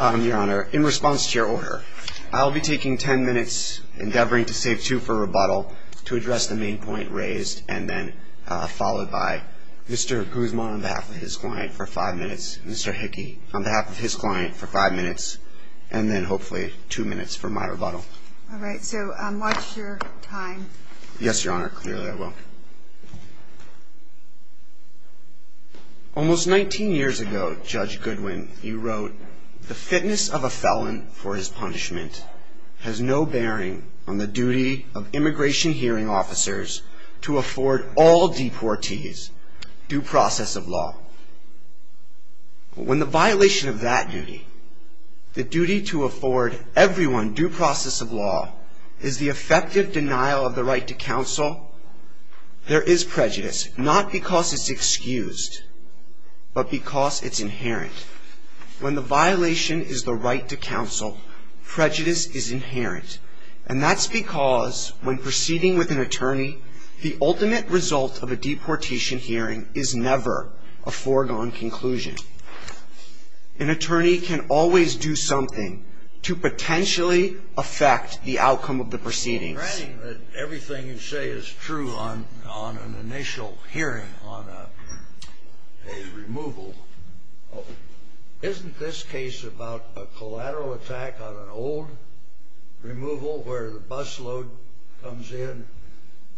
Your Honor, in response to your order, I'll be taking 10 minutes endeavoring to save 2 for rebuttal to address the main point raised and then followed by Mr. Guzman on behalf of his client for 5 minutes, Mr. Hickey on behalf of his client for 5 minutes, and then hopefully 2 minutes for my rebuttal. Alright, so watch your time. Yes, Your Honor, clearly I will. Almost 19 years ago, Judge Goodwin, he wrote, the fitness of a felon for his punishment has no bearing on the duty of immigration hearing officers to afford all deportees due process of law. When the violation of that duty, the duty to afford everyone due process of law, is the effective denial of the right to counsel, there is prejudice, not because it's excused, but because it's inherent. When the violation is the right to counsel, prejudice is inherent, and that's because when proceeding with an attorney, the ultimate result of a deportation hearing is never a foregone conclusion. An attorney can always do something to potentially affect the outcome of the proceedings. Everything you say is true on an initial hearing on a removal. Isn't this case about a collateral attack on an old removal where the bus load comes in,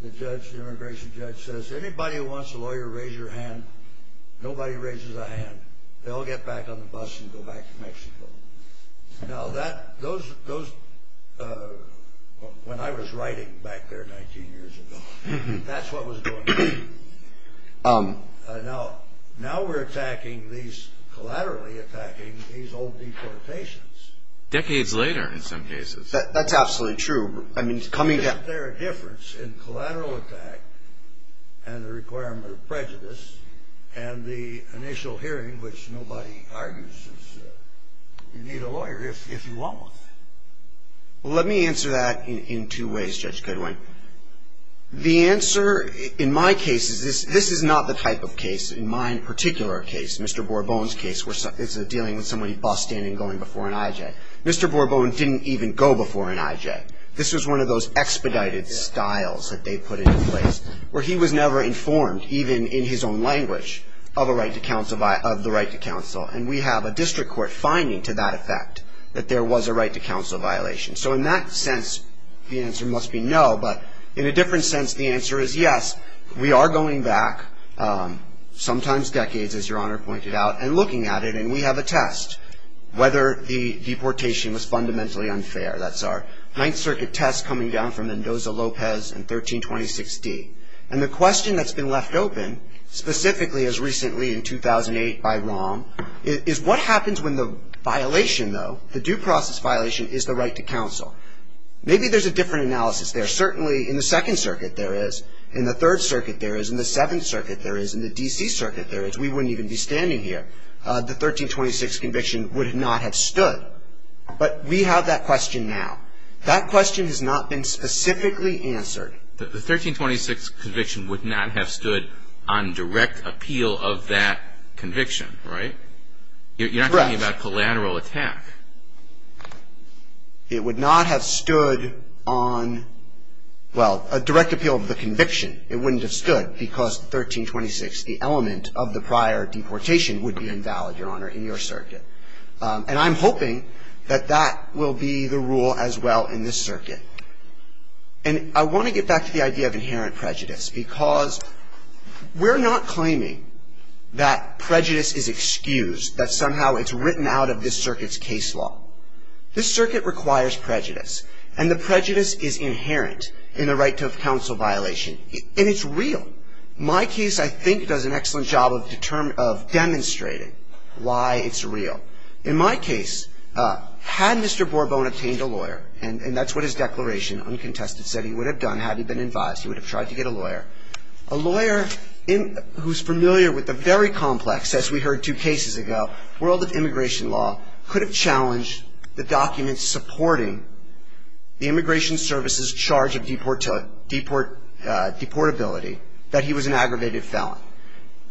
the judge, the immigration judge says, anybody who wants a lawyer, raise your hand. Nobody raises a hand. They all get back on the bus and go back to Mexico. Now that, those, when I was writing back there 19 years ago, that's what was going on. Now we're attacking these, collaterally attacking these old deportations. Decades later in some cases. That's absolutely true. Isn't there a difference in collateral attack and the requirement of prejudice and the initial hearing, which nobody argues, you need a lawyer if you want one. Let me answer that in two ways, Judge Goodwin. The answer, in my case, this is not the type of case, in my particular case, Mr. Borbone's case, where it's dealing with somebody bus standing and going before an IJ. Mr. Borbone didn't even go before an IJ. This was one of those expedited styles that they put in place where he was never informed, even in his own language, of a right to counsel, of the right to counsel. And we have a district court finding to that effect that there was a right to counsel violation. So in that sense, the answer must be no. But in a different sense, the answer is yes. We are going back, sometimes decades, as Your Honor pointed out, and looking at it. And we have a test, whether the deportation was fundamentally unfair. That's our Ninth Circuit test coming down from Mendoza-Lopez in 1326D. And the question that's been left open, specifically as recently in 2008 by Rom, is what happens when the violation, though, the due process violation, is the right to counsel. Maybe there's a different analysis there. Certainly in the Second Circuit there is, in the Third Circuit there is, in the Seventh Circuit there is, in the D.C. Circuit there is. We wouldn't even be standing here. The 1326 conviction would not have stood. But we have that question now. That question has not been specifically answered. The 1326 conviction would not have stood on direct appeal of that conviction, right? Correct. You're not talking about collateral attack. It would not have stood on, well, a direct appeal of the conviction. It wouldn't have stood because 1326, the element of the prior deportation, would be invalid, Your Honor, in your circuit. And I'm hoping that that will be the rule as well in this circuit. And I want to get back to the idea of inherent prejudice, because we're not claiming that prejudice is excused, that somehow it's written out of this circuit's case law. This circuit requires prejudice. And the prejudice is inherent in the right to counsel violation. And it's real. My case, I think, does an excellent job of demonstrating why it's real. In my case, had Mr. Borbone obtained a lawyer, and that's what his declaration uncontested said he would have done had he been advised, he would have tried to get a lawyer, a lawyer who's familiar with the very complex, as we heard two cases ago, world of immigration law, could have challenged the documents supporting the Immigration Service's charge of deportability, that he was an aggravated felon.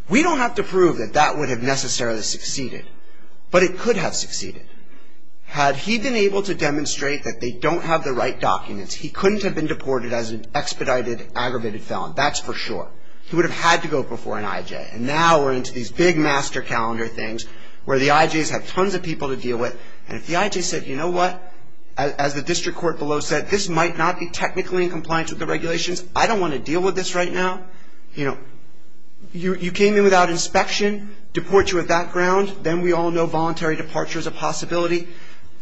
We don't have to prove that that would have necessarily succeeded, but it could have succeeded. Had he been able to demonstrate that they don't have the right documents, he couldn't have been deported as an expedited aggravated felon. That's for sure. He would have had to go before an IJ. And now we're into these big master calendar things where the IJs have tons of people to deal with. And if the IJ said, you know what, as the district court below said, this might not be technically in compliance with the regulations. I don't want to deal with this right now. You know, you came in without inspection. Deport you at that ground. Then we all know voluntary departure is a possibility.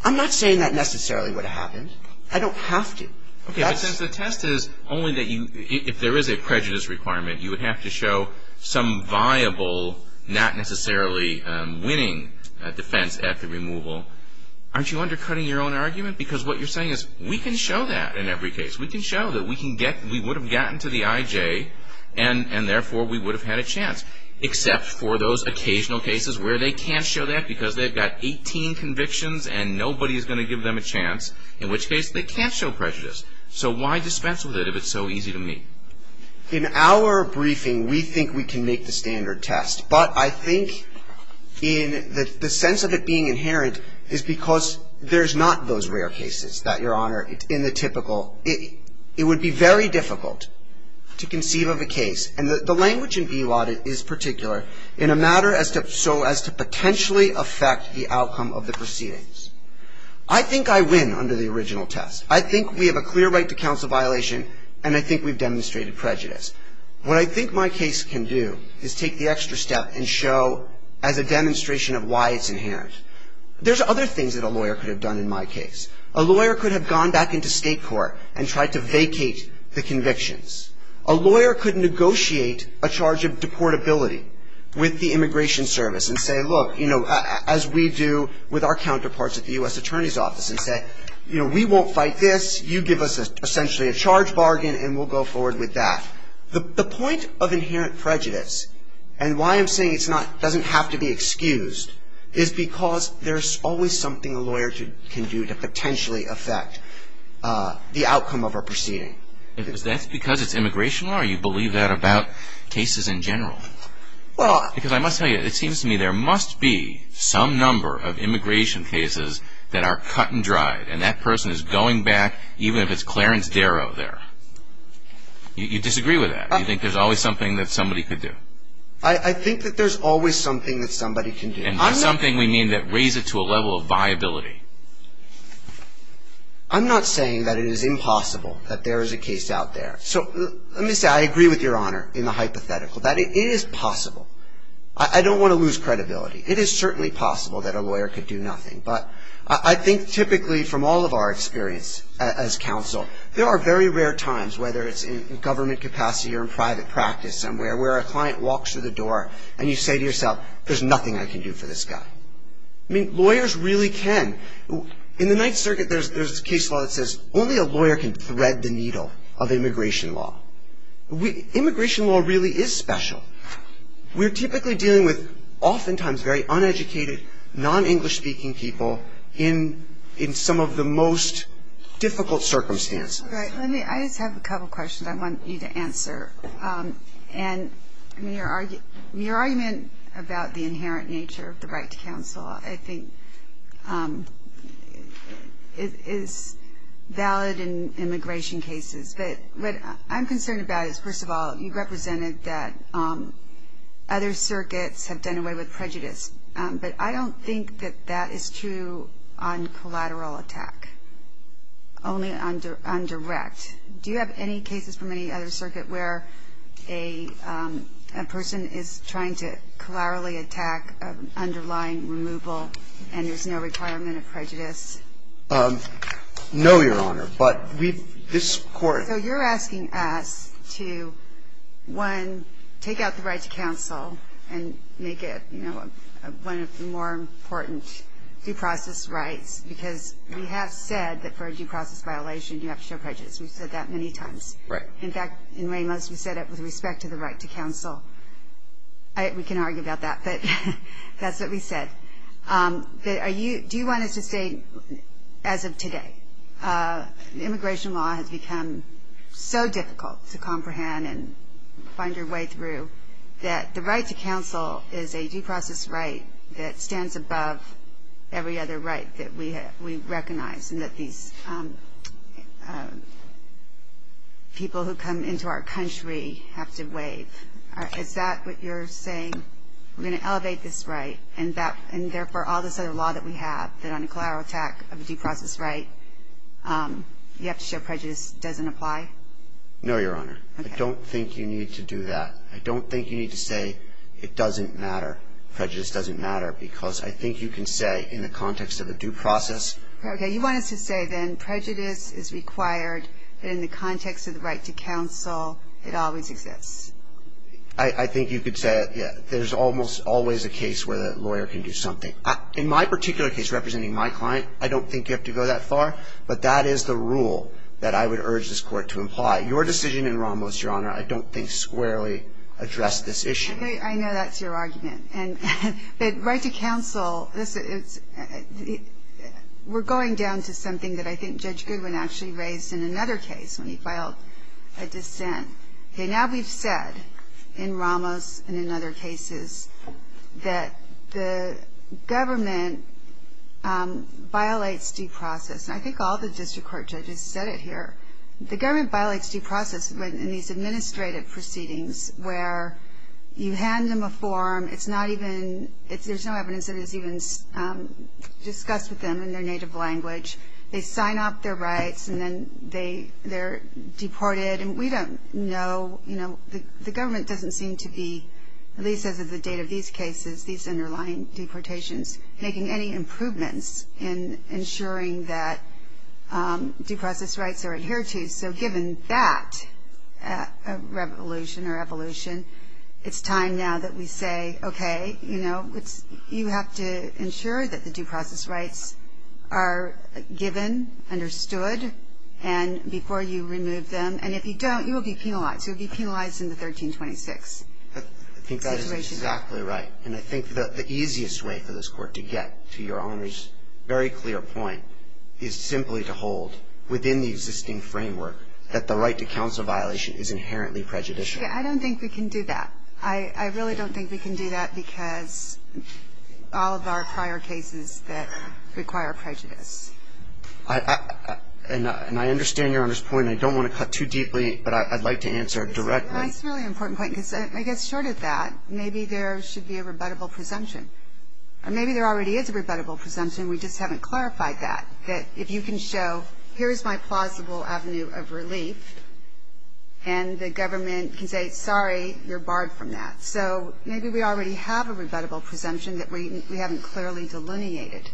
I'm not saying that necessarily would have happened. I don't have to. Okay, but since the test is only that you, if there is a prejudice requirement, you would have to show some viable, not necessarily winning defense at the removal. Aren't you undercutting your own argument? Because what you're saying is we can show that in every case. We can show that we can get, we would have gotten to the IJ, and therefore we would have had a chance. Except for those occasional cases where they can't show that because they've got 18 convictions and nobody is going to give them a chance. In which case, they can't show prejudice. So why dispense with it if it's so easy to meet? In our briefing, we think we can make the standard test. But I think in the sense of it being inherent is because there's not those rare cases that, Your Honor, in the typical, it would be very difficult to conceive of a case. And the language in BELOD is particular in a matter as to, so as to potentially affect the outcome of the proceedings. I think I win under the original test. I think we have a clear right to counsel violation, and I think we've demonstrated prejudice. What I think my case can do is take the extra step and show as a demonstration of why it's inherent. There's other things that a lawyer could have done in my case. A lawyer could have gone back into state court and tried to vacate the convictions. A lawyer could negotiate a charge of deportability with the Immigration Service and say, look, you know, as we do with our counterparts at the U.S. Attorney's Office and say, you know, we won't fight this. You give us essentially a charge bargain and we'll go forward with that. The point of inherent prejudice and why I'm saying it's not, doesn't have to be excused, is because there's always something a lawyer can do to potentially affect the outcome of a proceeding. If that's because it's immigration law, or you believe that about cases in general? Because I must tell you, it seems to me there must be some number of immigration cases that are cut and dried, and that person is going back, even if it's Clarence Darrow there. You disagree with that? You think there's always something that somebody could do? I think that there's always something that somebody can do. And by something we mean that raise it to a level of viability. I'm not saying that it is impossible that there is a case out there. So let me say I agree with Your Honor in the hypothetical, that it is possible. I don't want to lose credibility. It is certainly possible that a lawyer could do nothing. But I think typically from all of our experience as counsel, there are very rare times, whether it's in government capacity or in private practice somewhere, where a client walks through the door and you say to yourself, there's nothing I can do for this guy. I mean, lawyers really can. In the Ninth Circuit there's a case law that says only a lawyer can thread the needle of immigration law. Immigration law really is special. We're typically dealing with oftentimes very uneducated, non-English speaking people in some of the most difficult circumstances. And your argument about the inherent nature of the right to counsel, I think, is valid in immigration cases. But what I'm concerned about is, first of all, you represented that other circuits have done away with prejudice. But I don't think that that is true on collateral attack, only on direct. Do you have any cases from any other circuit where a person is trying to collaterally attack an underlying removal and there's no requirement of prejudice? No, Your Honor. But we've – this Court – So you're asking us to, one, take out the right to counsel and make it, you know, one of the more important due process rights, because we have said that for a due process violation you have to show prejudice. We've said that many times. Right. In fact, in Ramos we said it with respect to the right to counsel. We can argue about that, but that's what we said. Do you want us to say, as of today, immigration law has become so difficult to comprehend and find your way through that the right to counsel is a due process right that stands above every other right that we recognize and that these people who come into our country have to waive? Is that what you're saying? We're going to elevate this right and, therefore, all this other law that we have, that on a collateral attack of a due process right, you have to show prejudice doesn't apply? No, Your Honor. I don't think you need to do that. I don't think you need to say it doesn't matter, prejudice doesn't matter, because I think you can say in the context of a due process. Okay. You want us to say, then, prejudice is required in the context of the right to counsel. It always exists. I think you could say, yeah, there's almost always a case where the lawyer can do something. In my particular case, representing my client, I don't think you have to go that far, but that is the rule that I would urge this Court to imply. Your decision in Ramos, Your Honor, I don't think squarely addressed this issue. I know that's your argument. But right to counsel, we're going down to something that I think Judge Goodwin actually raised in another case when he filed a dissent. Now we've said in Ramos and in other cases that the government violates due process. I think all the district court judges said it here. The government violates due process in these administrative proceedings where you There's no evidence that it's even discussed with them in their native language. They sign off their rights, and then they're deported. And we don't know. The government doesn't seem to be, at least as of the date of these cases, these underlying deportations, making any improvements in ensuring that due process rights are adhered to. So given that revolution or evolution, it's time now that we say, okay, you know, you have to ensure that the due process rights are given, understood, and before you remove them. And if you don't, you will be penalized. You will be penalized in the 1326 situation. I think that is exactly right. And I think that the easiest way for this Court to get to Your Honor's very clear point is simply to hold within the existing framework that the right to counsel violation is inherently prejudicial. I don't think we can do that. I really don't think we can do that because all of our prior cases that require prejudice. And I understand Your Honor's point. I don't want to cut too deeply, but I'd like to answer directly. That's a really important point because I guess short of that, maybe there should be a rebuttable presumption. Or maybe there already is a rebuttable presumption. We just haven't clarified that, that if you can show here is my plausible avenue of relief and the government can say, sorry, you're barred from that. So maybe we already have a rebuttable presumption that we haven't clearly delineated.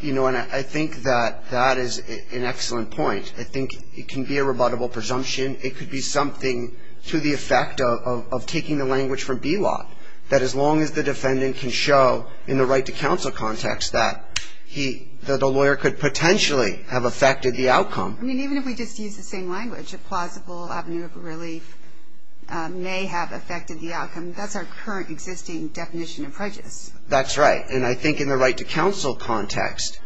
You know, and I think that that is an excellent point. I think it can be a rebuttable presumption. It could be something to the effect of taking the language from BELOC, that as long as the defendant can show in the right to counsel context that the lawyer could potentially have affected the outcome. I mean, even if we just use the same language, a plausible avenue of relief may have affected the outcome. That's our current existing definition of prejudice. That's right. And I think in the right to counsel context,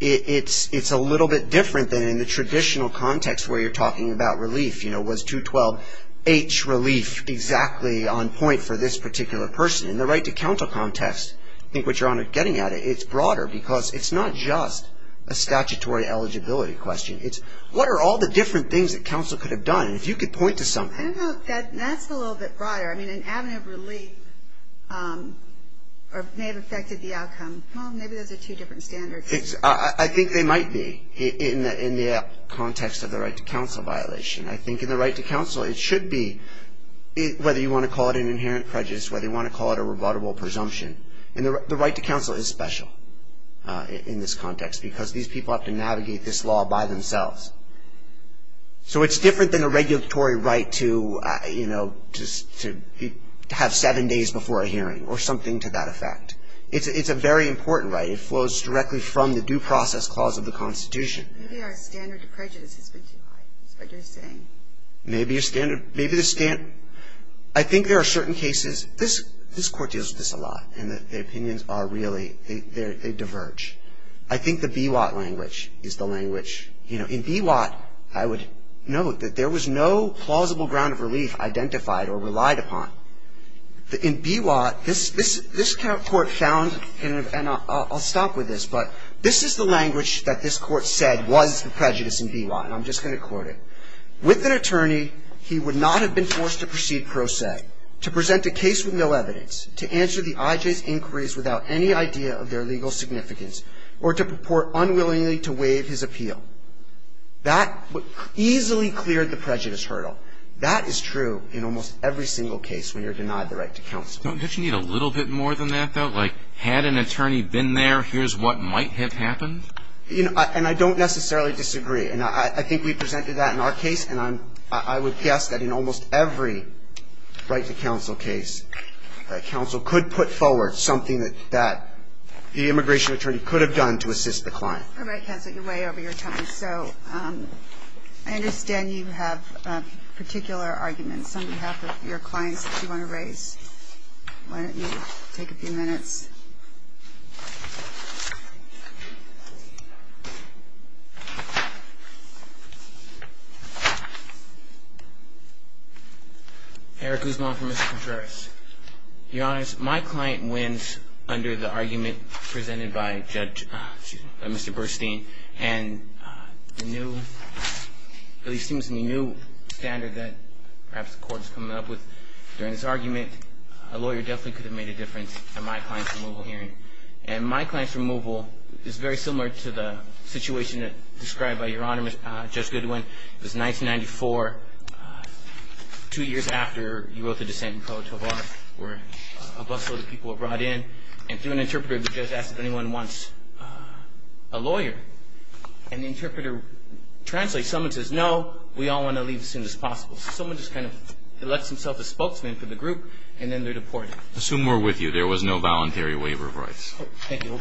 it's a little bit different than in the traditional context where you're talking about relief. You know, was 212H relief exactly on point for this particular person? In the right to counsel context, I think what you're getting at, it's broader because it's not just a statutory eligibility question. It's what are all the different things that counsel could have done? If you could point to something. I don't know if that's a little bit broader. I mean, an avenue of relief may have affected the outcome. Well, maybe those are two different standards. I think they might be in the context of the right to counsel violation. I think in the right to counsel, it should be, whether you want to call it an inherent prejudice, whether you want to call it a rebuttable presumption. The right to counsel is special in this context because these people have to navigate this law by themselves. So it's different than a regulatory right to have seven days before a hearing or something to that effect. It's a very important right. It flows directly from the due process clause of the Constitution. Maybe our standard of prejudice has been too high, is what you're saying. Maybe the standard. I think there are certain cases. This Court deals with this a lot, and the opinions are really, they diverge. I think the BWAT language is the language. In BWAT, I would note that there was no plausible ground of relief identified or relied upon. In BWAT, this Court found, and I'll stop with this, but this is the language that this Court said was the prejudice in BWAT, and I'm just going to quote it. With an attorney, he would not have been forced to proceed pro se, to present a case with no evidence, to answer the IJ's inquiries without any idea of their legal significance, or to purport unwillingly to waive his appeal. That easily cleared the prejudice hurdle. That is true in almost every single case when you're denied the right to counsel. Don't you need a little bit more than that, though? Like, had an attorney been there, here's what might have happened? And I don't necessarily disagree, and I think we presented that in our case, and I would guess that in almost every right to counsel case, counsel could put forward something that the immigration attorney could have done to assist the client. All right, counsel, you're way over your time. So I understand you have particular arguments on behalf of your clients that you want to raise. Why don't you take a few minutes? Eric Guzman for Mr. Contreras. Your Honors, my client wins under the argument presented by Judge Mr. Bernstein, and the new, at least it seems in the new standard that perhaps the Court is coming up with during this argument, a lawyer definitely could have made a difference, and my client seems to have made a difference. And my client's removal is very similar to the situation described by Your Honor, Judge Goodwin. It was 1994, two years after you wrote the dissent in court, where a busload of people were brought in, and through an interpreter, the judge asked if anyone wants a lawyer. And the interpreter translates, someone says, no, we all want to leave as soon as possible. So someone just kind of elects himself a spokesman for the group, and then they're deported. Assume we're with you. There was no voluntary waiver of rights. Thank you.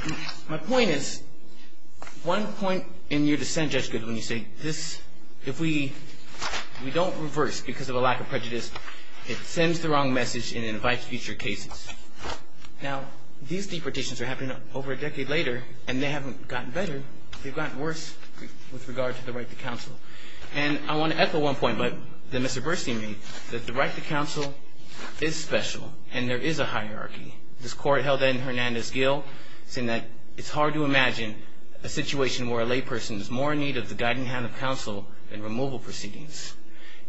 My point is, one point in your dissent, Judge Goodwin, you say this, if we don't reverse because of a lack of prejudice, it sends the wrong message and invites future cases. Now, these deportations are happening over a decade later, and they haven't gotten better. They've gotten worse with regard to the right to counsel. And I want to echo one point that Mr. Burstein made, that the right to counsel is special, and there is a hierarchy. This Court held that in Hernandez-Gill, saying that it's hard to imagine a situation where a layperson is more in need of the guiding hand of counsel than removal proceedings.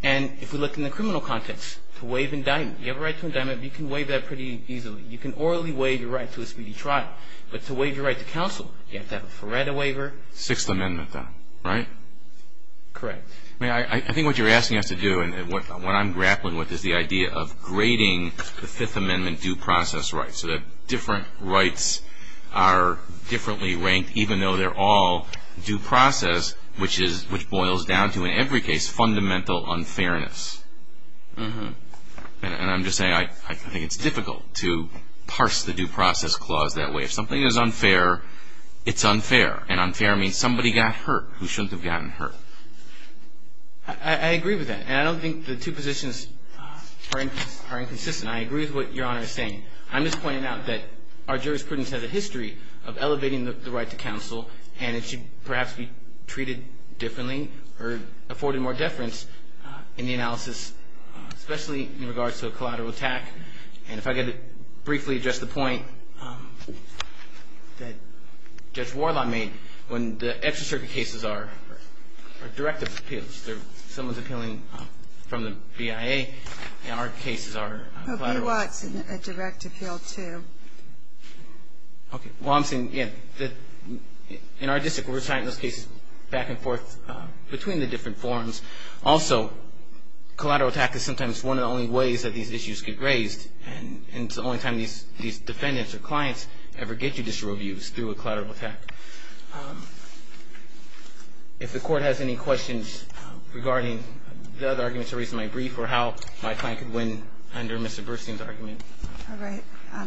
And if we look in the criminal context, to waive indictment, you have a right to indictment, you can waive that pretty easily. You can orally waive your right to a speedy trial, but to waive your right to counsel, you have to have a Feretta waiver. Sixth Amendment, then, right? Correct. I think what you're asking us to do, and what I'm grappling with, is the idea of grading the Fifth Amendment due process rights, so that different rights are differently ranked, even though they're all due process, which boils down to, in every case, fundamental unfairness. And I'm just saying, I think it's difficult to parse the due process clause that way. If something is unfair, it's unfair. And unfair means somebody got hurt who shouldn't have gotten hurt. I agree with that. And I don't think the two positions are inconsistent. I agree with what Your Honor is saying. I'm just pointing out that our jurisprudence has a history of elevating the right to counsel, and it should perhaps be treated differently or afforded more deference in the analysis, especially in regards to a collateral attack. And if I could briefly address the point that Judge Warlock made, when the extracurricular cases are direct appeals, someone's appealing from the BIA, and our cases are collateral attacks. But we want a direct appeal, too. Okay. Well, I'm saying, again, in our district, we're assigning those cases back and forth between the different forms. Also, collateral attack is sometimes one of the only ways that these issues get raised, and it's the only time these defendants or clients ever get judicial reviews through a collateral attack. If the Court has any questions regarding the other arguments I raised in my brief or how my client could win under Mr. Burstein's argument. All right. I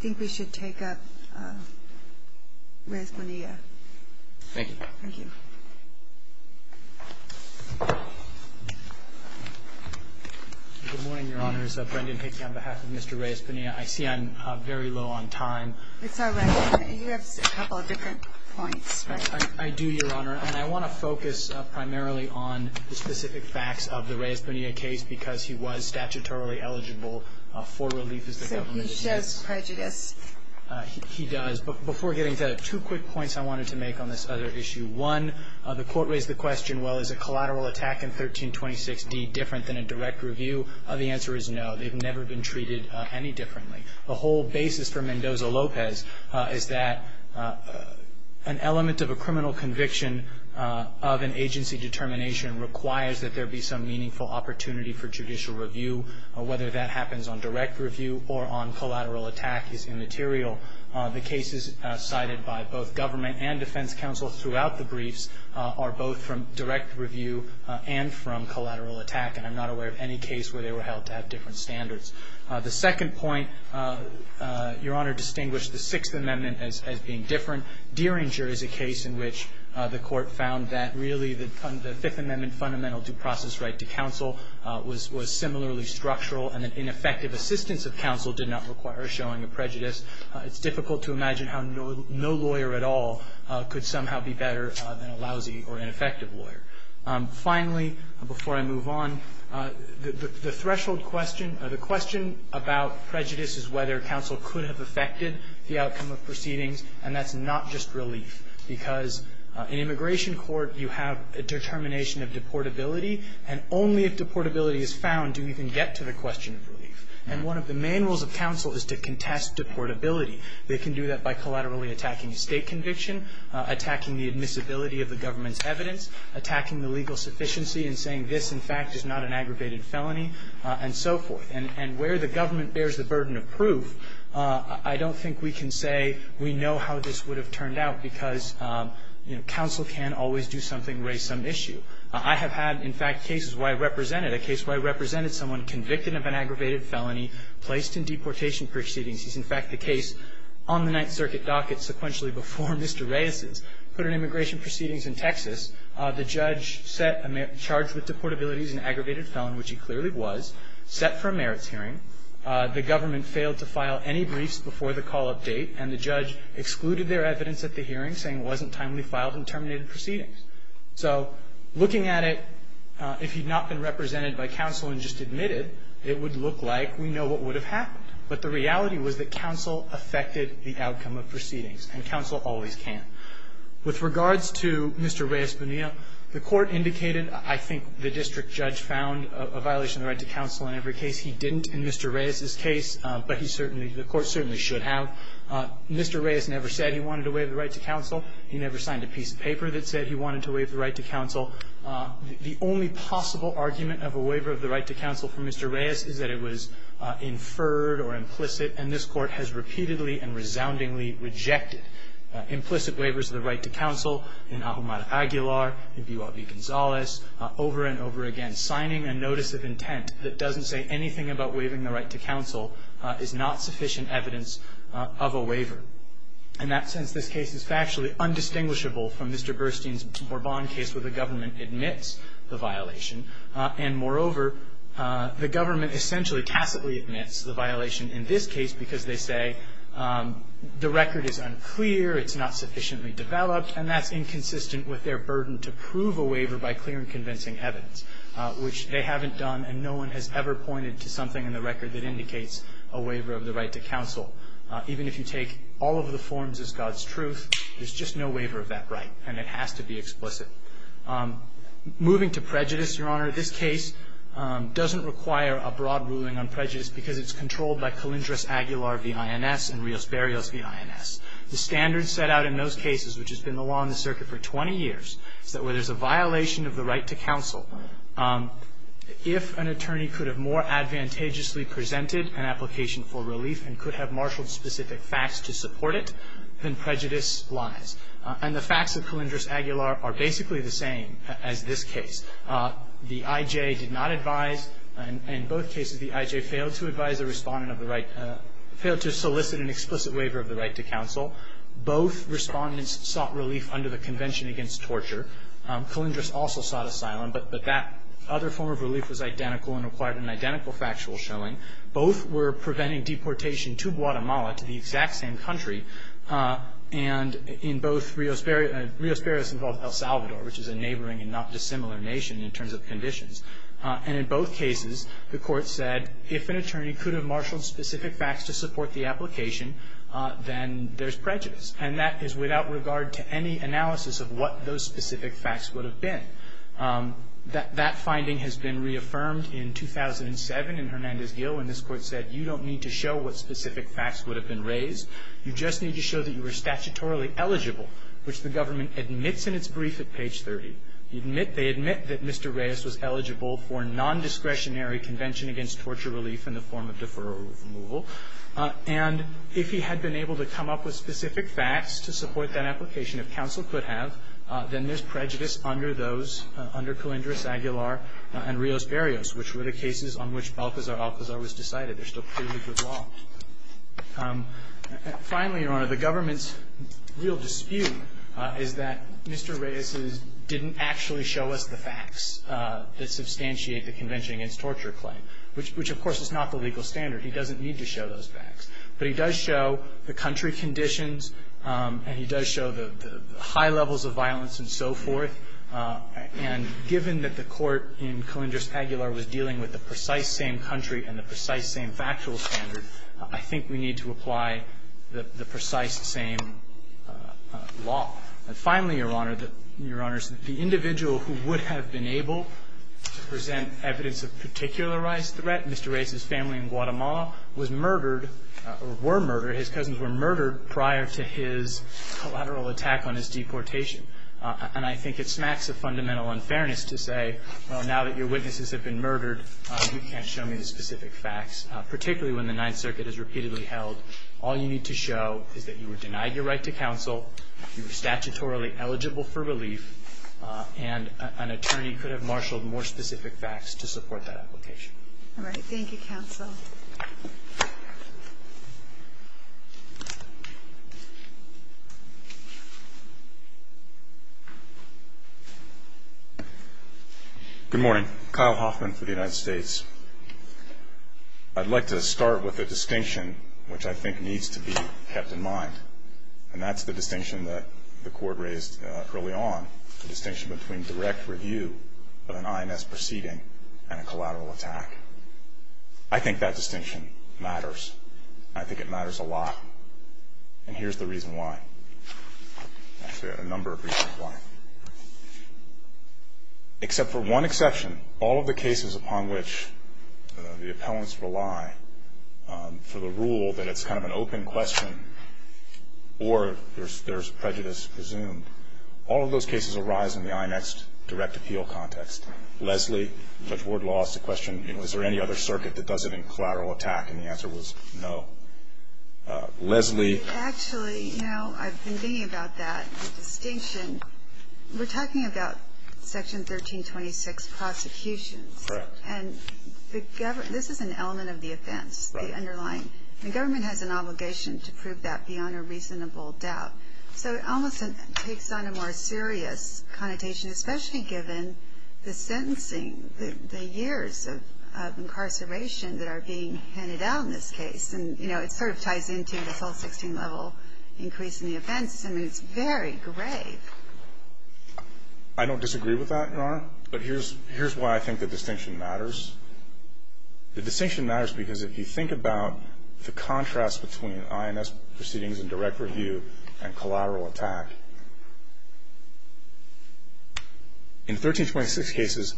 think we should take up Rez Bonilla. Thank you. Thank you. Good morning, Your Honors. Brendan Hickey on behalf of Mr. Rez Bonilla. I see I'm very low on time. It's all right. You have a couple of different points. I do, Your Honor. And I want to focus primarily on the specific facts of the Rez Bonilla case because he was statutorily eligible for relief as the government did. So he shows prejudice. He does. Before getting to that, two quick points I wanted to make on this other issue. One, the Court raised the question, well, is a collateral attack in 1326d different than a direct review? The answer is no. They've never been treated any differently. The whole basis for Mendoza-Lopez is that an element of a criminal conviction of an agency determination requires that there be some meaningful opportunity for judicial review. Whether that happens on direct review or on collateral attack is immaterial. The cases cited by both government and defense counsel throughout the briefs are both from direct review and from collateral attack, and I'm not aware of any case where they were held to have different standards. The second point, Your Honor, distinguished the Sixth Amendment as being different. Derringer is a case in which the Court found that, really, the Fifth Amendment fundamental due process right to counsel was similarly structural and that ineffective assistance of counsel did not require showing a prejudice. It's difficult to imagine how no lawyer at all could somehow be better than a lousy or ineffective lawyer. Finally, before I move on, the threshold question, the question about prejudice is whether counsel could have affected the outcome of proceedings, and that's not just relief because in immigration court you have a determination of deportability, and only if deportability is found do you even get to the question of relief. And one of the main rules of counsel is to contest deportability. They can do that by collaterally attacking a state conviction, attacking the admissibility of the government's evidence, attacking the legal sufficiency in saying this, in fact, is not an aggravated felony, and so forth. And where the government bears the burden of proof, I don't think we can say we know how this would have turned out because, you know, counsel can always do something, raise some issue. I have had, in fact, cases where I represented a case where I represented someone convicted of an aggravated felony, placed in deportation proceedings. He's, in fact, the case on the Ninth Circuit docket sequentially before Mr. Reyes's, put in immigration proceedings in Texas. The judge set a charge with deportability as an aggravated felony, which he clearly was, set for a merits hearing. The government failed to file any briefs before the call of date, and the judge excluded their evidence at the hearing, saying it wasn't timely filed and terminated proceedings. So looking at it, if he'd not been represented by counsel and just admitted, it would look like we know what would have happened. But the reality was that counsel affected the outcome of proceedings, and counsel always can. With regards to Mr. Reyes Bonilla, the Court indicated, I think, the district judge found a violation of the right to counsel in every case. He didn't in Mr. Reyes's case, but he certainly, the Court certainly should have. Mr. Reyes never said he wanted to waive the right to counsel. He never signed a piece of paper that said he wanted to waive the right to counsel. The only possible argument of a waiver of the right to counsel for Mr. Reyes is that it was inferred or implicit, and this Court has repeatedly and resoundingly rejected implicit waivers of the right to counsel in Ahumada Aguilar, in B.Y.B. Gonzalez, over and over again. Signing a notice of intent that doesn't say anything about waiving the right to counsel is not sufficient evidence of a waiver. In that sense, this case is factually undistinguishable from Mr. Burstein's Bourbon case where the government admits the violation. And moreover, the government essentially tacitly admits the violation in this case because they say the record is unclear, it's not sufficiently developed, and that's inconsistent with their burden to prove a waiver by clear and convincing evidence, which they haven't done, and no one has ever pointed to something in the record that indicates a waiver of the right to counsel. Even if you take all of the forms as God's truth, there's just no waiver of that right, and it has to be explicit. Moving to prejudice, Your Honor, this case doesn't require a broad ruling on prejudice because it's controlled by Calindras Aguilar v. INS and Rios Barrios v. INS. The standards set out in those cases, which has been along the circuit for 20 years, is that where there's a violation of the right to counsel, if an attorney could have more advantageously presented an application for relief and could have marshaled specific facts to support it, then prejudice lies. And the facts of Calindras Aguilar are basically the same as this case. The I.J. did not advise. In both cases, the I.J. failed to advise a respondent of the right, failed to solicit an explicit waiver of the right to counsel. Both respondents sought relief under the Convention Against Torture. Calindras also sought asylum, but that other form of relief was identical and required an identical factual showing. Both were preventing deportation to Guatemala, to the exact same country. And in both, Rios Barrios involved El Salvador, which is a neighboring and not dissimilar nation in terms of conditions. And in both cases, the Court said, if an attorney could have marshaled specific facts to support the application, then there's prejudice. And that is without regard to any analysis of what those specific facts would have been. That finding has been reaffirmed in 2007 in Hernandez-Gil when this Court said, you don't need to show what specific facts would have been raised. You just need to show that you were statutorily eligible, which the government admits in its brief at page 30. They admit that Mr. Rios was eligible for nondiscretionary convention against torture relief in the form of deferral removal. And if he had been able to come up with specific facts to support that application, if counsel could have, then there's prejudice under those, under Calindras, Aguilar, and Rios Barrios, which were the cases on which Balcazar-Alcazar was decided. They're still clearly good law. Finally, Your Honor, the government's real dispute is that Mr. Reyes didn't actually show us the facts that substantiate the convention against torture claim, which, of course, is not the legal standard. He doesn't need to show those facts. But he does show the country conditions, and he does show the high levels of violence and so forth. And given that the Court in Calindras, Aguilar, was dealing with the precise same country and the precise same factual standard, I think we need to apply the precise same law. And finally, Your Honor, Your Honors, the individual who would have been able to present evidence of particularized threat, Mr. Reyes' family in Guatemala, was murdered or were murdered, his cousins were murdered, prior to his collateral attack on his deportation. And I think it smacks of fundamental unfairness to say, well, now that your witnesses have been murdered, you can't show me the specific facts, particularly when the Ninth Circuit is repeatedly held. All you need to show is that you were denied your right to counsel, you were statutorily eligible for relief, and an attorney could have marshaled more specific facts to support that application. All right. Thank you, counsel. Good morning. Kyle Hoffman for the United States. I'd like to start with a distinction which I think needs to be kept in mind, and that's the distinction that the Court raised early on, the distinction between direct review of an INS proceeding and a collateral attack. I think that distinction matters, and I think it matters a lot, and here's the reason why. Actually, I have a number of reasons why. Except for one exception, all of the cases upon which the appellants rely for the rule that it's kind of an open question or there's prejudice presumed, all of those cases arise in the INEXT direct appeal context. Leslie, before I lost the question, you know, is there any other circuit that does it in collateral attack, and the answer was no. Leslie. Actually, you know, I've been thinking about that distinction. We're talking about Section 1326 prosecutions. Correct. And this is an element of the offense, the underlying. The government has an obligation to prove that beyond a reasonable doubt. So it almost takes on a more serious connotation, especially given the sentencing, the years of incarceration that are being handed out in this case, and, you know, it sort of ties into the full 16-level increase in the offense. I mean, it's very grave. I don't disagree with that, Your Honor, but here's why I think the distinction matters. The distinction matters because if you think about the contrast between INS proceedings and direct review and collateral attack, in 1326 cases,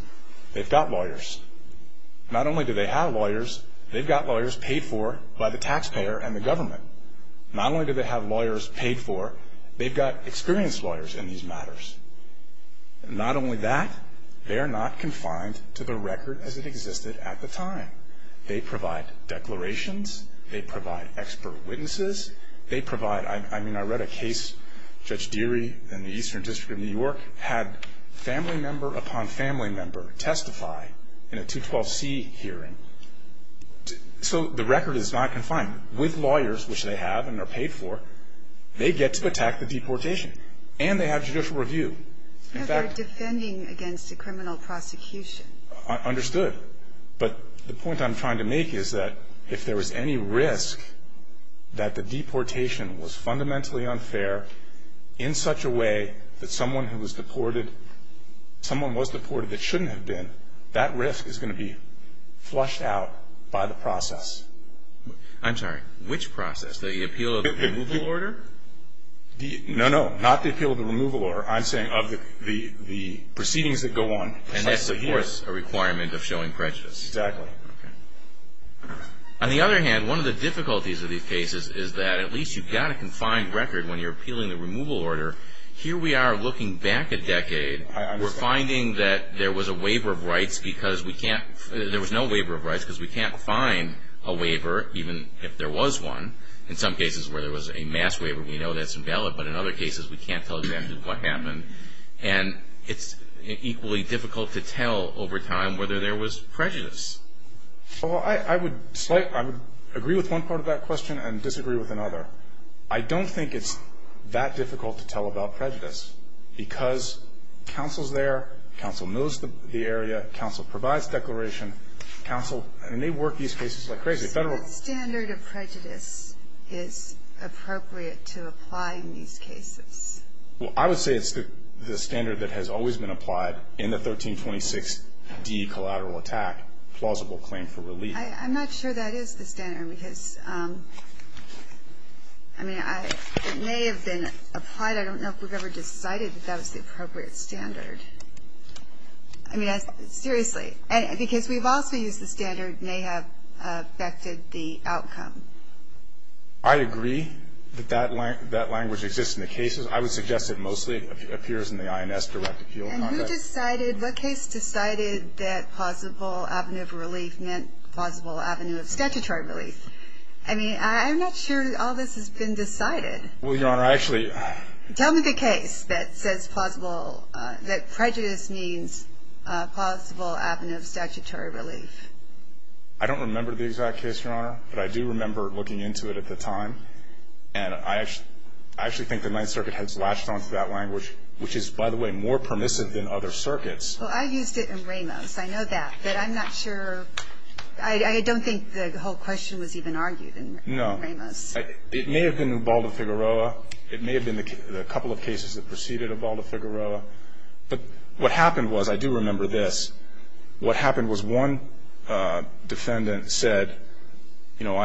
they've got lawyers. Not only do they have lawyers, they've got lawyers paid for by the taxpayer and the government. Not only do they have lawyers paid for, they've got experienced lawyers in these matters. Not only that, they are not confined to the record as it existed at the time. They provide declarations. They provide expert witnesses. They provide, I mean, I read a case, Judge Deary in the Eastern District of New York had family member upon family member testify in a 212C hearing. So the record is not confined. With lawyers, which they have and are paid for, they get to attack the deportation. And they have judicial review. In fact they're defending against a criminal prosecution. Understood. But the point I'm trying to make is that if there was any risk that the deportation was fundamentally unfair in such a way that someone who was deported, someone was deported that shouldn't have been, that risk is going to be flushed out by the process. I'm sorry. Which process? The appeal of the removal order? No, no. Not the appeal of the removal order. I'm saying of the proceedings that go on. And that's, of course, a requirement of showing prejudice. Exactly. Okay. On the other hand, one of the difficulties of these cases is that at least you've got a confined record when you're appealing the removal order. Here we are looking back a decade. I understand. We're finding that there was a waiver of rights because we can't, there was no waiver of rights because we can't find a waiver, even if there was one. In some cases where there was a mass waiver, we know that's invalid, but in other cases we can't tell exactly what happened. And it's equally difficult to tell over time whether there was prejudice. Well, I would agree with one part of that question and disagree with another. I don't think it's that difficult to tell about prejudice because counsel's there, counsel knows the area, counsel provides declaration, and they work these cases like crazy. So what standard of prejudice is appropriate to apply in these cases? Well, I would say it's the standard that has always been applied in the 1326D collateral attack, plausible claim for relief. I'm not sure that is the standard because, I mean, it may have been applied. I don't know if we've ever decided that that was the appropriate standard. I mean, seriously, because we've also used the standard may have affected the outcome. I agree that that language exists in the cases. I would suggest it mostly appears in the INS direct appeal. And who decided, what case decided that plausible avenue for relief meant plausible avenue of statutory relief? I mean, I'm not sure all this has been decided. Well, Your Honor, I actually. Tell me the case that says plausible, that prejudice means plausible avenue of statutory relief. I don't remember the exact case, Your Honor, but I do remember looking into it at the time. And I actually think the Ninth Circuit has latched onto that language, which is, by the way, more permissive than other circuits. Well, I used it in Ramos. I know that, but I'm not sure. I don't think the whole question was even argued in Ramos. No. It may have been Ubaldo Figueroa. It may have been the couple of cases that preceded Ubaldo Figueroa. But what happened was, I do remember this, what happened was one defendant said, you know,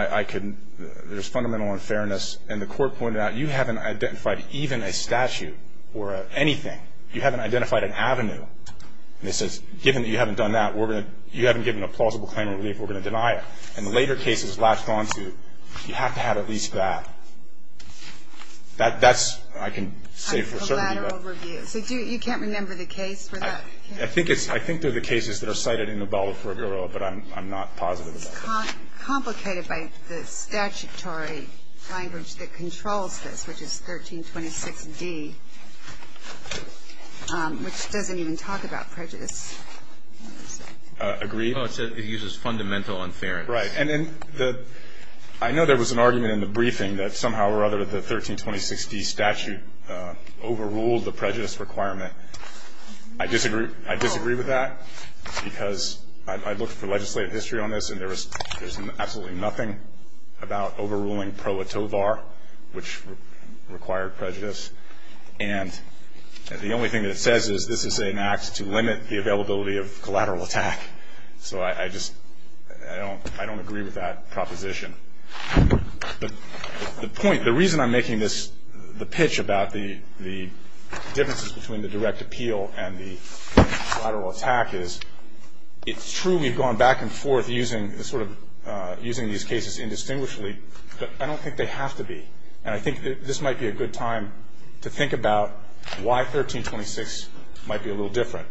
there's fundamental unfairness, and the court pointed out, you haven't identified even a statute or anything. You haven't identified an avenue. And they said, given that you haven't done that, you haven't given a plausible claim of relief, we're going to deny it. And the later cases latched onto, you have to have at least that. That's, I can say for certain. A collateral review. So you can't remember the case for that? I think they're the cases that are cited in Ubaldo Figueroa, but I'm not positive about that. It's complicated by the statutory language that controls this, which is 1326d, which doesn't even talk about prejudice. Agreed. No, it uses fundamental unfairness. Right. And I know there was an argument in the briefing that somehow or other the 1326d statute overruled the prejudice requirement. I disagree with that, because I looked for legislative history on this, and there was absolutely nothing about overruling pro atovar, which required prejudice. And the only thing that it says is this is an act to limit the availability of collateral attack. So I just don't agree with that proposition. The point, the reason I'm making the pitch about the differences between the direct appeal and the collateral attack is it's true we've gone back and forth using these cases indistinguishably, but I don't think they have to be. And I think this might be a good time to think about why 1326 might be a little different,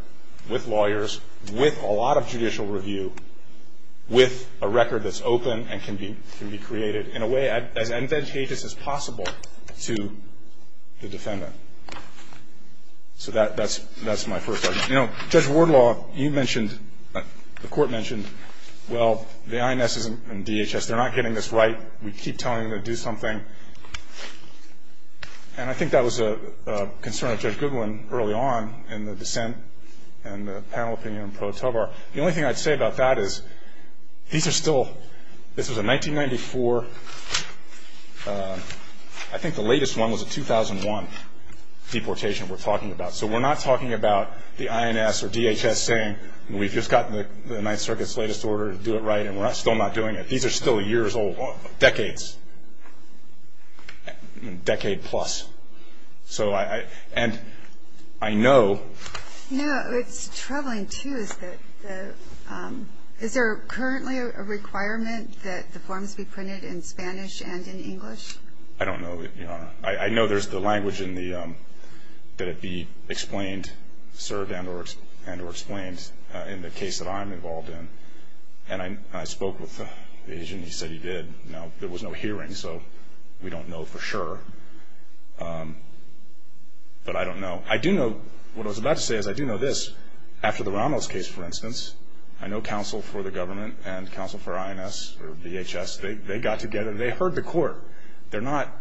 with lawyers, with a lot of judicial review, with a record that's open and can be created in a way as advantageous as possible to the defendant. So that's my first argument. You know, Judge Wardlaw, you mentioned, the Court mentioned, well, the INS and DHS, they're not getting this right. We keep telling them to do something. And I think that was a concern of Judge Goodwin early on in the dissent and the panel opinion on pro atovar. The only thing I'd say about that is these are still, this was a 1994, I think the latest one was a 2001 deportation we're talking about. So we're not talking about the INS or DHS saying we've just gotten the Ninth Circuit's latest order, do it right, and we're still not doing it. These are still years old, decades, decade plus. So I, and I know. No, it's troubling, too, is that the, is there currently a requirement that the forms be printed in Spanish and in English? I don't know. I know there's the language in the, that it be explained, served and or explained in the case that I'm involved in. And I spoke with the agent. He said he did. Now, there was no hearing, so we don't know for sure. But I don't know. I do know, what I was about to say is I do know this. After the Ramos case, for instance, I know counsel for the government and counsel for INS or DHS, they got together and they heard the court. They're not.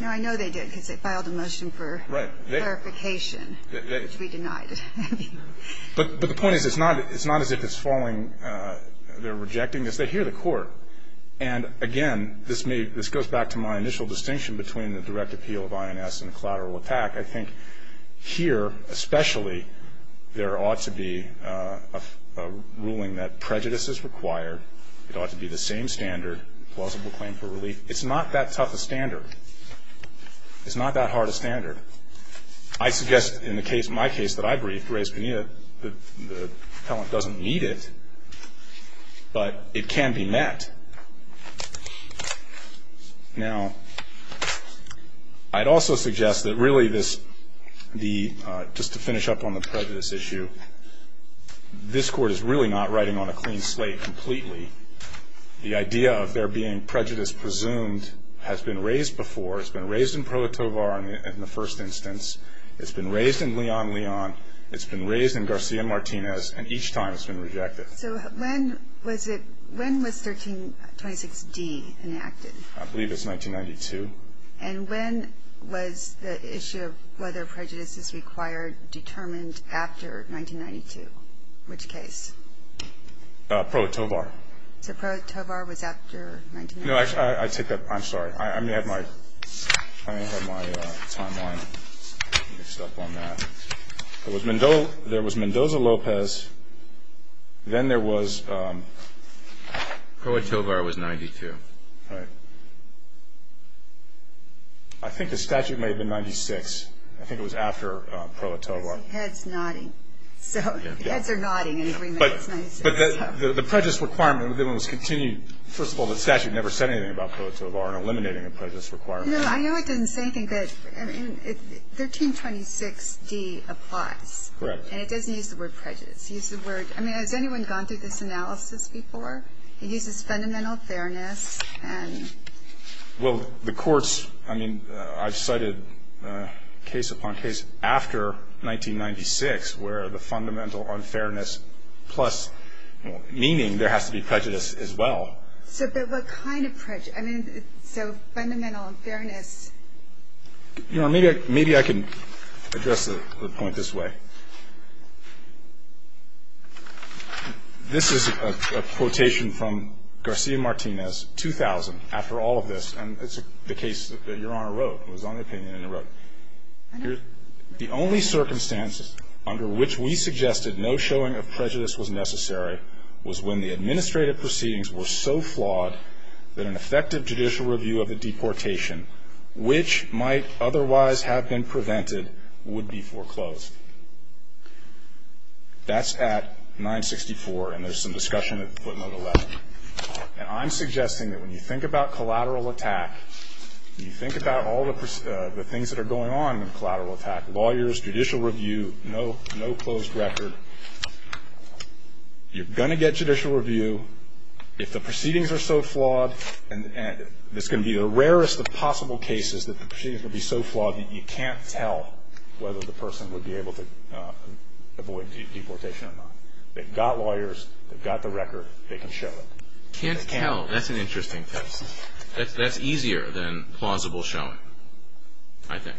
No, I know they did because they filed a motion for clarification, which we denied. But the point is, it's not as if it's falling, they're rejecting this. They hear the court. And, again, this goes back to my initial distinction between the direct appeal of INS and collateral attack. I think here, especially, there ought to be a ruling that prejudice is required. It ought to be the same standard, plausible claim for relief. It's not that tough a standard. It's not that hard a standard. I suggest in the case, my case that I briefed, Reyes-Bonilla, that the appellant doesn't need it. But it can be met. Now, I'd also suggest that really this, the, just to finish up on the prejudice issue, this court is really not writing on a clean slate completely. The idea of there being prejudice presumed has been raised before, it's been raised in pro tovar in the first instance. It's been raised in Leon-Leon. It's been raised in Garcia-Martinez. And each time it's been rejected. So when was 1326D enacted? I believe it's 1992. And when was the issue of whether prejudice is required determined after 1992? Which case? Pro tovar. So pro tovar was after 1992? No, I take that. I'm sorry. I may have my timeline mixed up on that. There was Mendoza-Lopez. Then there was? Pro tovar was 1992. Right. I think the statute may have been 1996. I think it was after pro tovar. My head's nodding. So heads are nodding in agreement. But the prejudice requirement was continued. First of all, the statute never said anything about pro tovar and eliminating a prejudice requirement. No, I know it didn't say anything, but 1326D applies. Correct. And it doesn't use the word prejudice. I mean, has anyone gone through this analysis before? It uses fundamental fairness. Well, the courts, I mean, I've cited case upon case after 1996 where the fundamental unfairness plus meaning there has to be prejudice as well. So what kind of prejudice? I mean, so fundamental unfairness. You know, maybe I can address the point this way. This is a quotation from Garcia-Martinez, 2000, after all of this, and it's the case that Your Honor wrote. It was on the opinion and it wrote, The only circumstances under which we suggested no showing of prejudice was necessary was when the administrative proceedings were so flawed that an effective judicial review of the deportation, which might otherwise have been prevented, would be foreclosed. That's at 964, and there's some discussion at footnote 11. And I'm suggesting that when you think about collateral attack, when you think about all the things that are going on in collateral attack, lawyers, judicial review, no closed record, you're going to get judicial review. If the proceedings are so flawed, and it's going to be the rarest of possible cases that the proceedings will be so flawed that you can't tell whether the person would be able to avoid deportation or not. They've got lawyers. They've got the record. They can show it. Can't tell. That's an interesting case. That's easier than plausible showing, I think.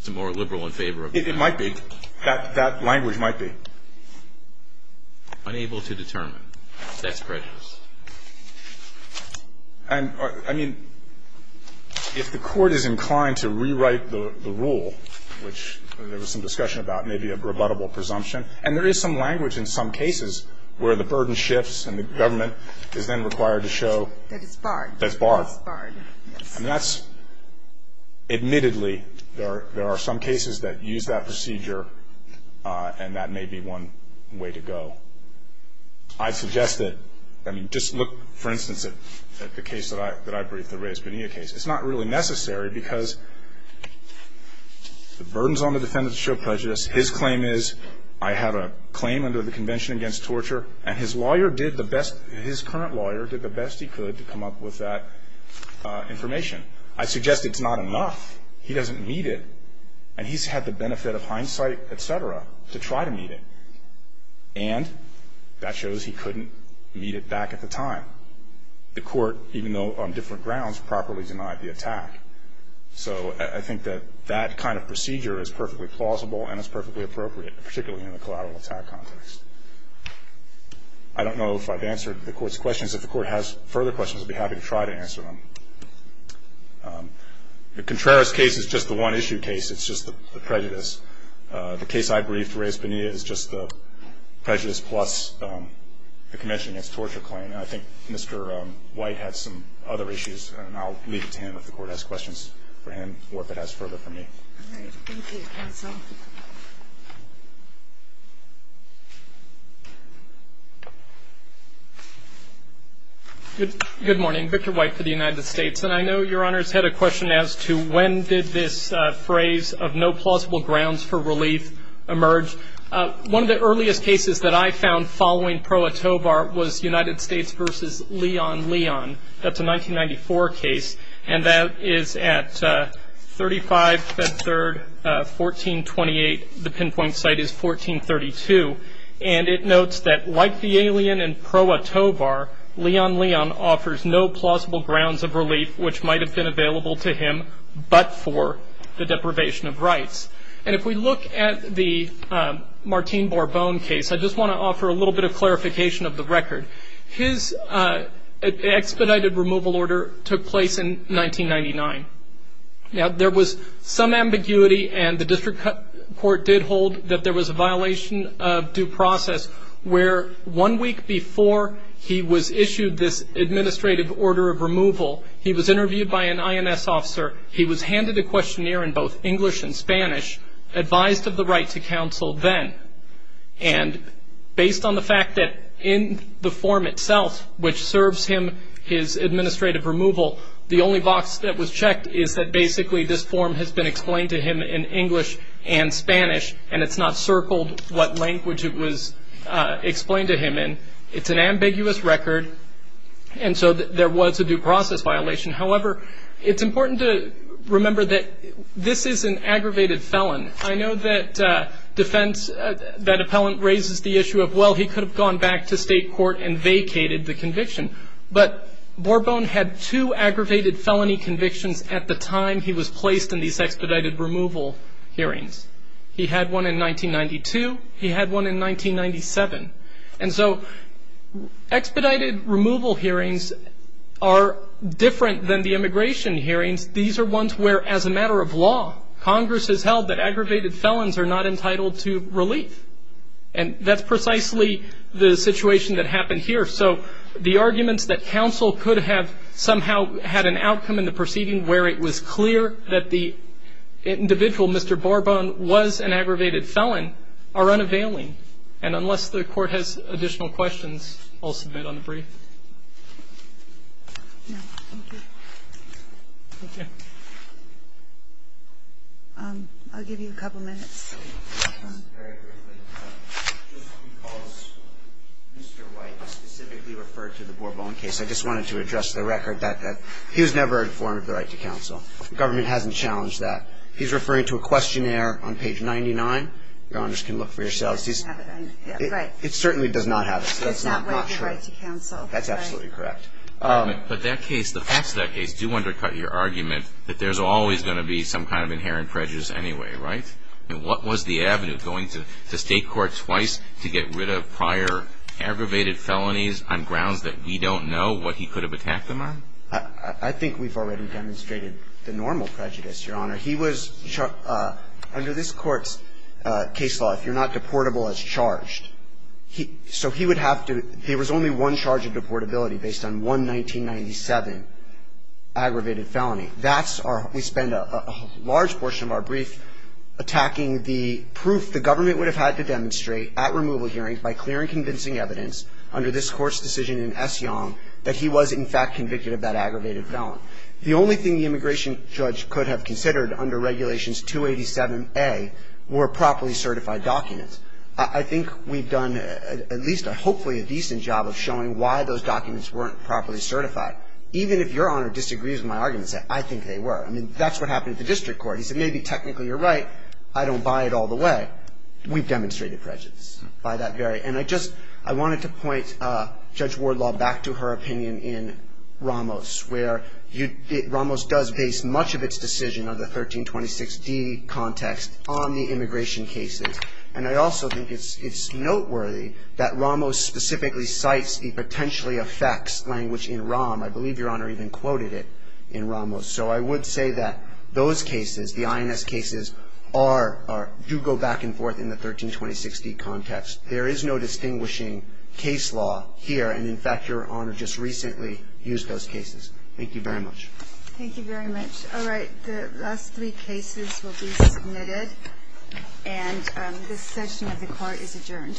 It's more liberal in favor of that. It might be. That language might be. Unable to determine. That's prejudice. And, I mean, if the court is inclined to rewrite the rule, which there was some discussion about, maybe a rebuttable presumption, and there is some language in some cases where the burden shifts and the government is then required to show that it's barred. That's barred. That's barred. Yes. And that's, admittedly, there are some cases that use that procedure, and that may be one way to go. I'd suggest that, I mean, just look, for instance, at the case that I briefed, the Reyes-Bonilla case. It's not really necessary because the burdens on the defendant show prejudice. His claim is, I had a claim under the Convention Against Torture, and his lawyer did the best, his current lawyer did the best he could to come up with that information. I suggest it's not enough. He doesn't need it. And he's had the benefit of hindsight, et cetera, to try to meet it. And that shows he couldn't meet it back at the time. The court, even though on different grounds, properly denied the attack. So I think that that kind of procedure is perfectly plausible and is perfectly appropriate, particularly in the collateral attack context. I don't know if I've answered the court's questions. If the court has further questions, I'll be happy to try to answer them. The Contreras case is just the one-issue case. It's just the prejudice. The case I briefed, Reyes-Bonilla, is just the prejudice plus the Convention Against Torture claim. And I think Mr. White had some other issues, and I'll leave it to him if the court has questions for him or if it has further for me. All right. Thank you, counsel. Good morning. Victor White for the United States. And I know Your Honor's had a question as to when did this phrase of no plausible grounds for relief emerge. One of the earliest cases that I found following Pro Atovar was United States v. Leon Leon. That's a 1994 case. And that is at 35 Feb. 3, 1428. The pinpoint site is 1432. And it notes that, like the alien in Pro Atovar, Leon Leon offers no plausible grounds of relief, which might have been available to him but for the deprivation of rights. And if we look at the Martine Bourbon case, I just want to offer a little bit of clarification of the record. His expedited removal order took place in 1999. Now, there was some ambiguity, and the district court did hold that there was a violation of due process where one week before he was issued this administrative order of removal, he was interviewed by an INS officer. He was handed a questionnaire in both English and Spanish, advised of the right to counsel then. And based on the fact that in the form itself, which serves him his administrative removal, the only box that was checked is that basically this form has been explained to him in English and Spanish, and it's not circled what language it was explained to him in. It's an ambiguous record, and so there was a due process violation. However, it's important to remember that this is an aggravated felon. I know that defense, that appellant raises the issue of, well, he could have gone back to state court and vacated the conviction. But Bourbon had two aggravated felony convictions at the time he was placed in these expedited removal hearings. He had one in 1992. He had one in 1997. And so expedited removal hearings are different than the immigration hearings. These are ones where, as a matter of law, Congress has held that aggravated felons are not entitled to relief. And that's precisely the situation that happened here. So the arguments that counsel could have somehow had an outcome in the proceeding where it was clear that the individual, Mr. Bourbon, was an aggravated felon, are unavailing. And unless the Court has additional questions, I'll submit on the brief. No, thank you. Thank you. I'll give you a couple minutes. Very quickly. Just because Mr. White specifically referred to the Bourbon case, I just wanted to address the record that he was never informed of the right to counsel. The government hasn't challenged that. He's referring to a questionnaire on page 99. Your honors can look for yourselves. It certainly does not have it. It does not have the right to counsel. That's absolutely correct. But that case, the facts of that case do undercut your argument that there's always going to be some kind of inherent prejudice anyway, right? I mean, what was the avenue? Going to state court twice to get rid of prior aggravated felonies on grounds that we don't know what he could have attacked them on? I think we've already demonstrated the normal prejudice, Your Honor. He was, under this Court's case law, if you're not deportable as charged, so he would have to, there was only one charge of deportability based on one 1997 aggravated felony. That's our, we spend a large portion of our brief attacking the proof the government would have had to demonstrate at removal hearings by clear and convincing evidence under this Court's decision in S. Young that he was in fact convicted of that aggravated felon. The only thing the immigration judge could have considered under Regulations 287A were properly certified documents. I think we've done at least, hopefully, a decent job of showing why those documents weren't properly certified. Even if Your Honor disagrees with my arguments, I think they were. I mean, that's what happened at the district court. He said, maybe technically you're right, I don't buy it all the way. We've demonstrated prejudice by that very, and I just, I wanted to point Judge Wardlaw back to her opinion in Ramos, where Ramos does base much of its decision of the 1326D context on the immigration cases. And I also think it's noteworthy that Ramos specifically cites the potentially effects language in Ramos. I believe Your Honor even quoted it in Ramos. So I would say that those cases, the INS cases, are, do go back and forth in the 1326D context. There is no distinguishing case law here, and in fact, Your Honor just recently used those cases. Thank you very much. Thank you very much. All right. The last three cases will be submitted, and this session of the court is adjourned.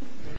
Thank you.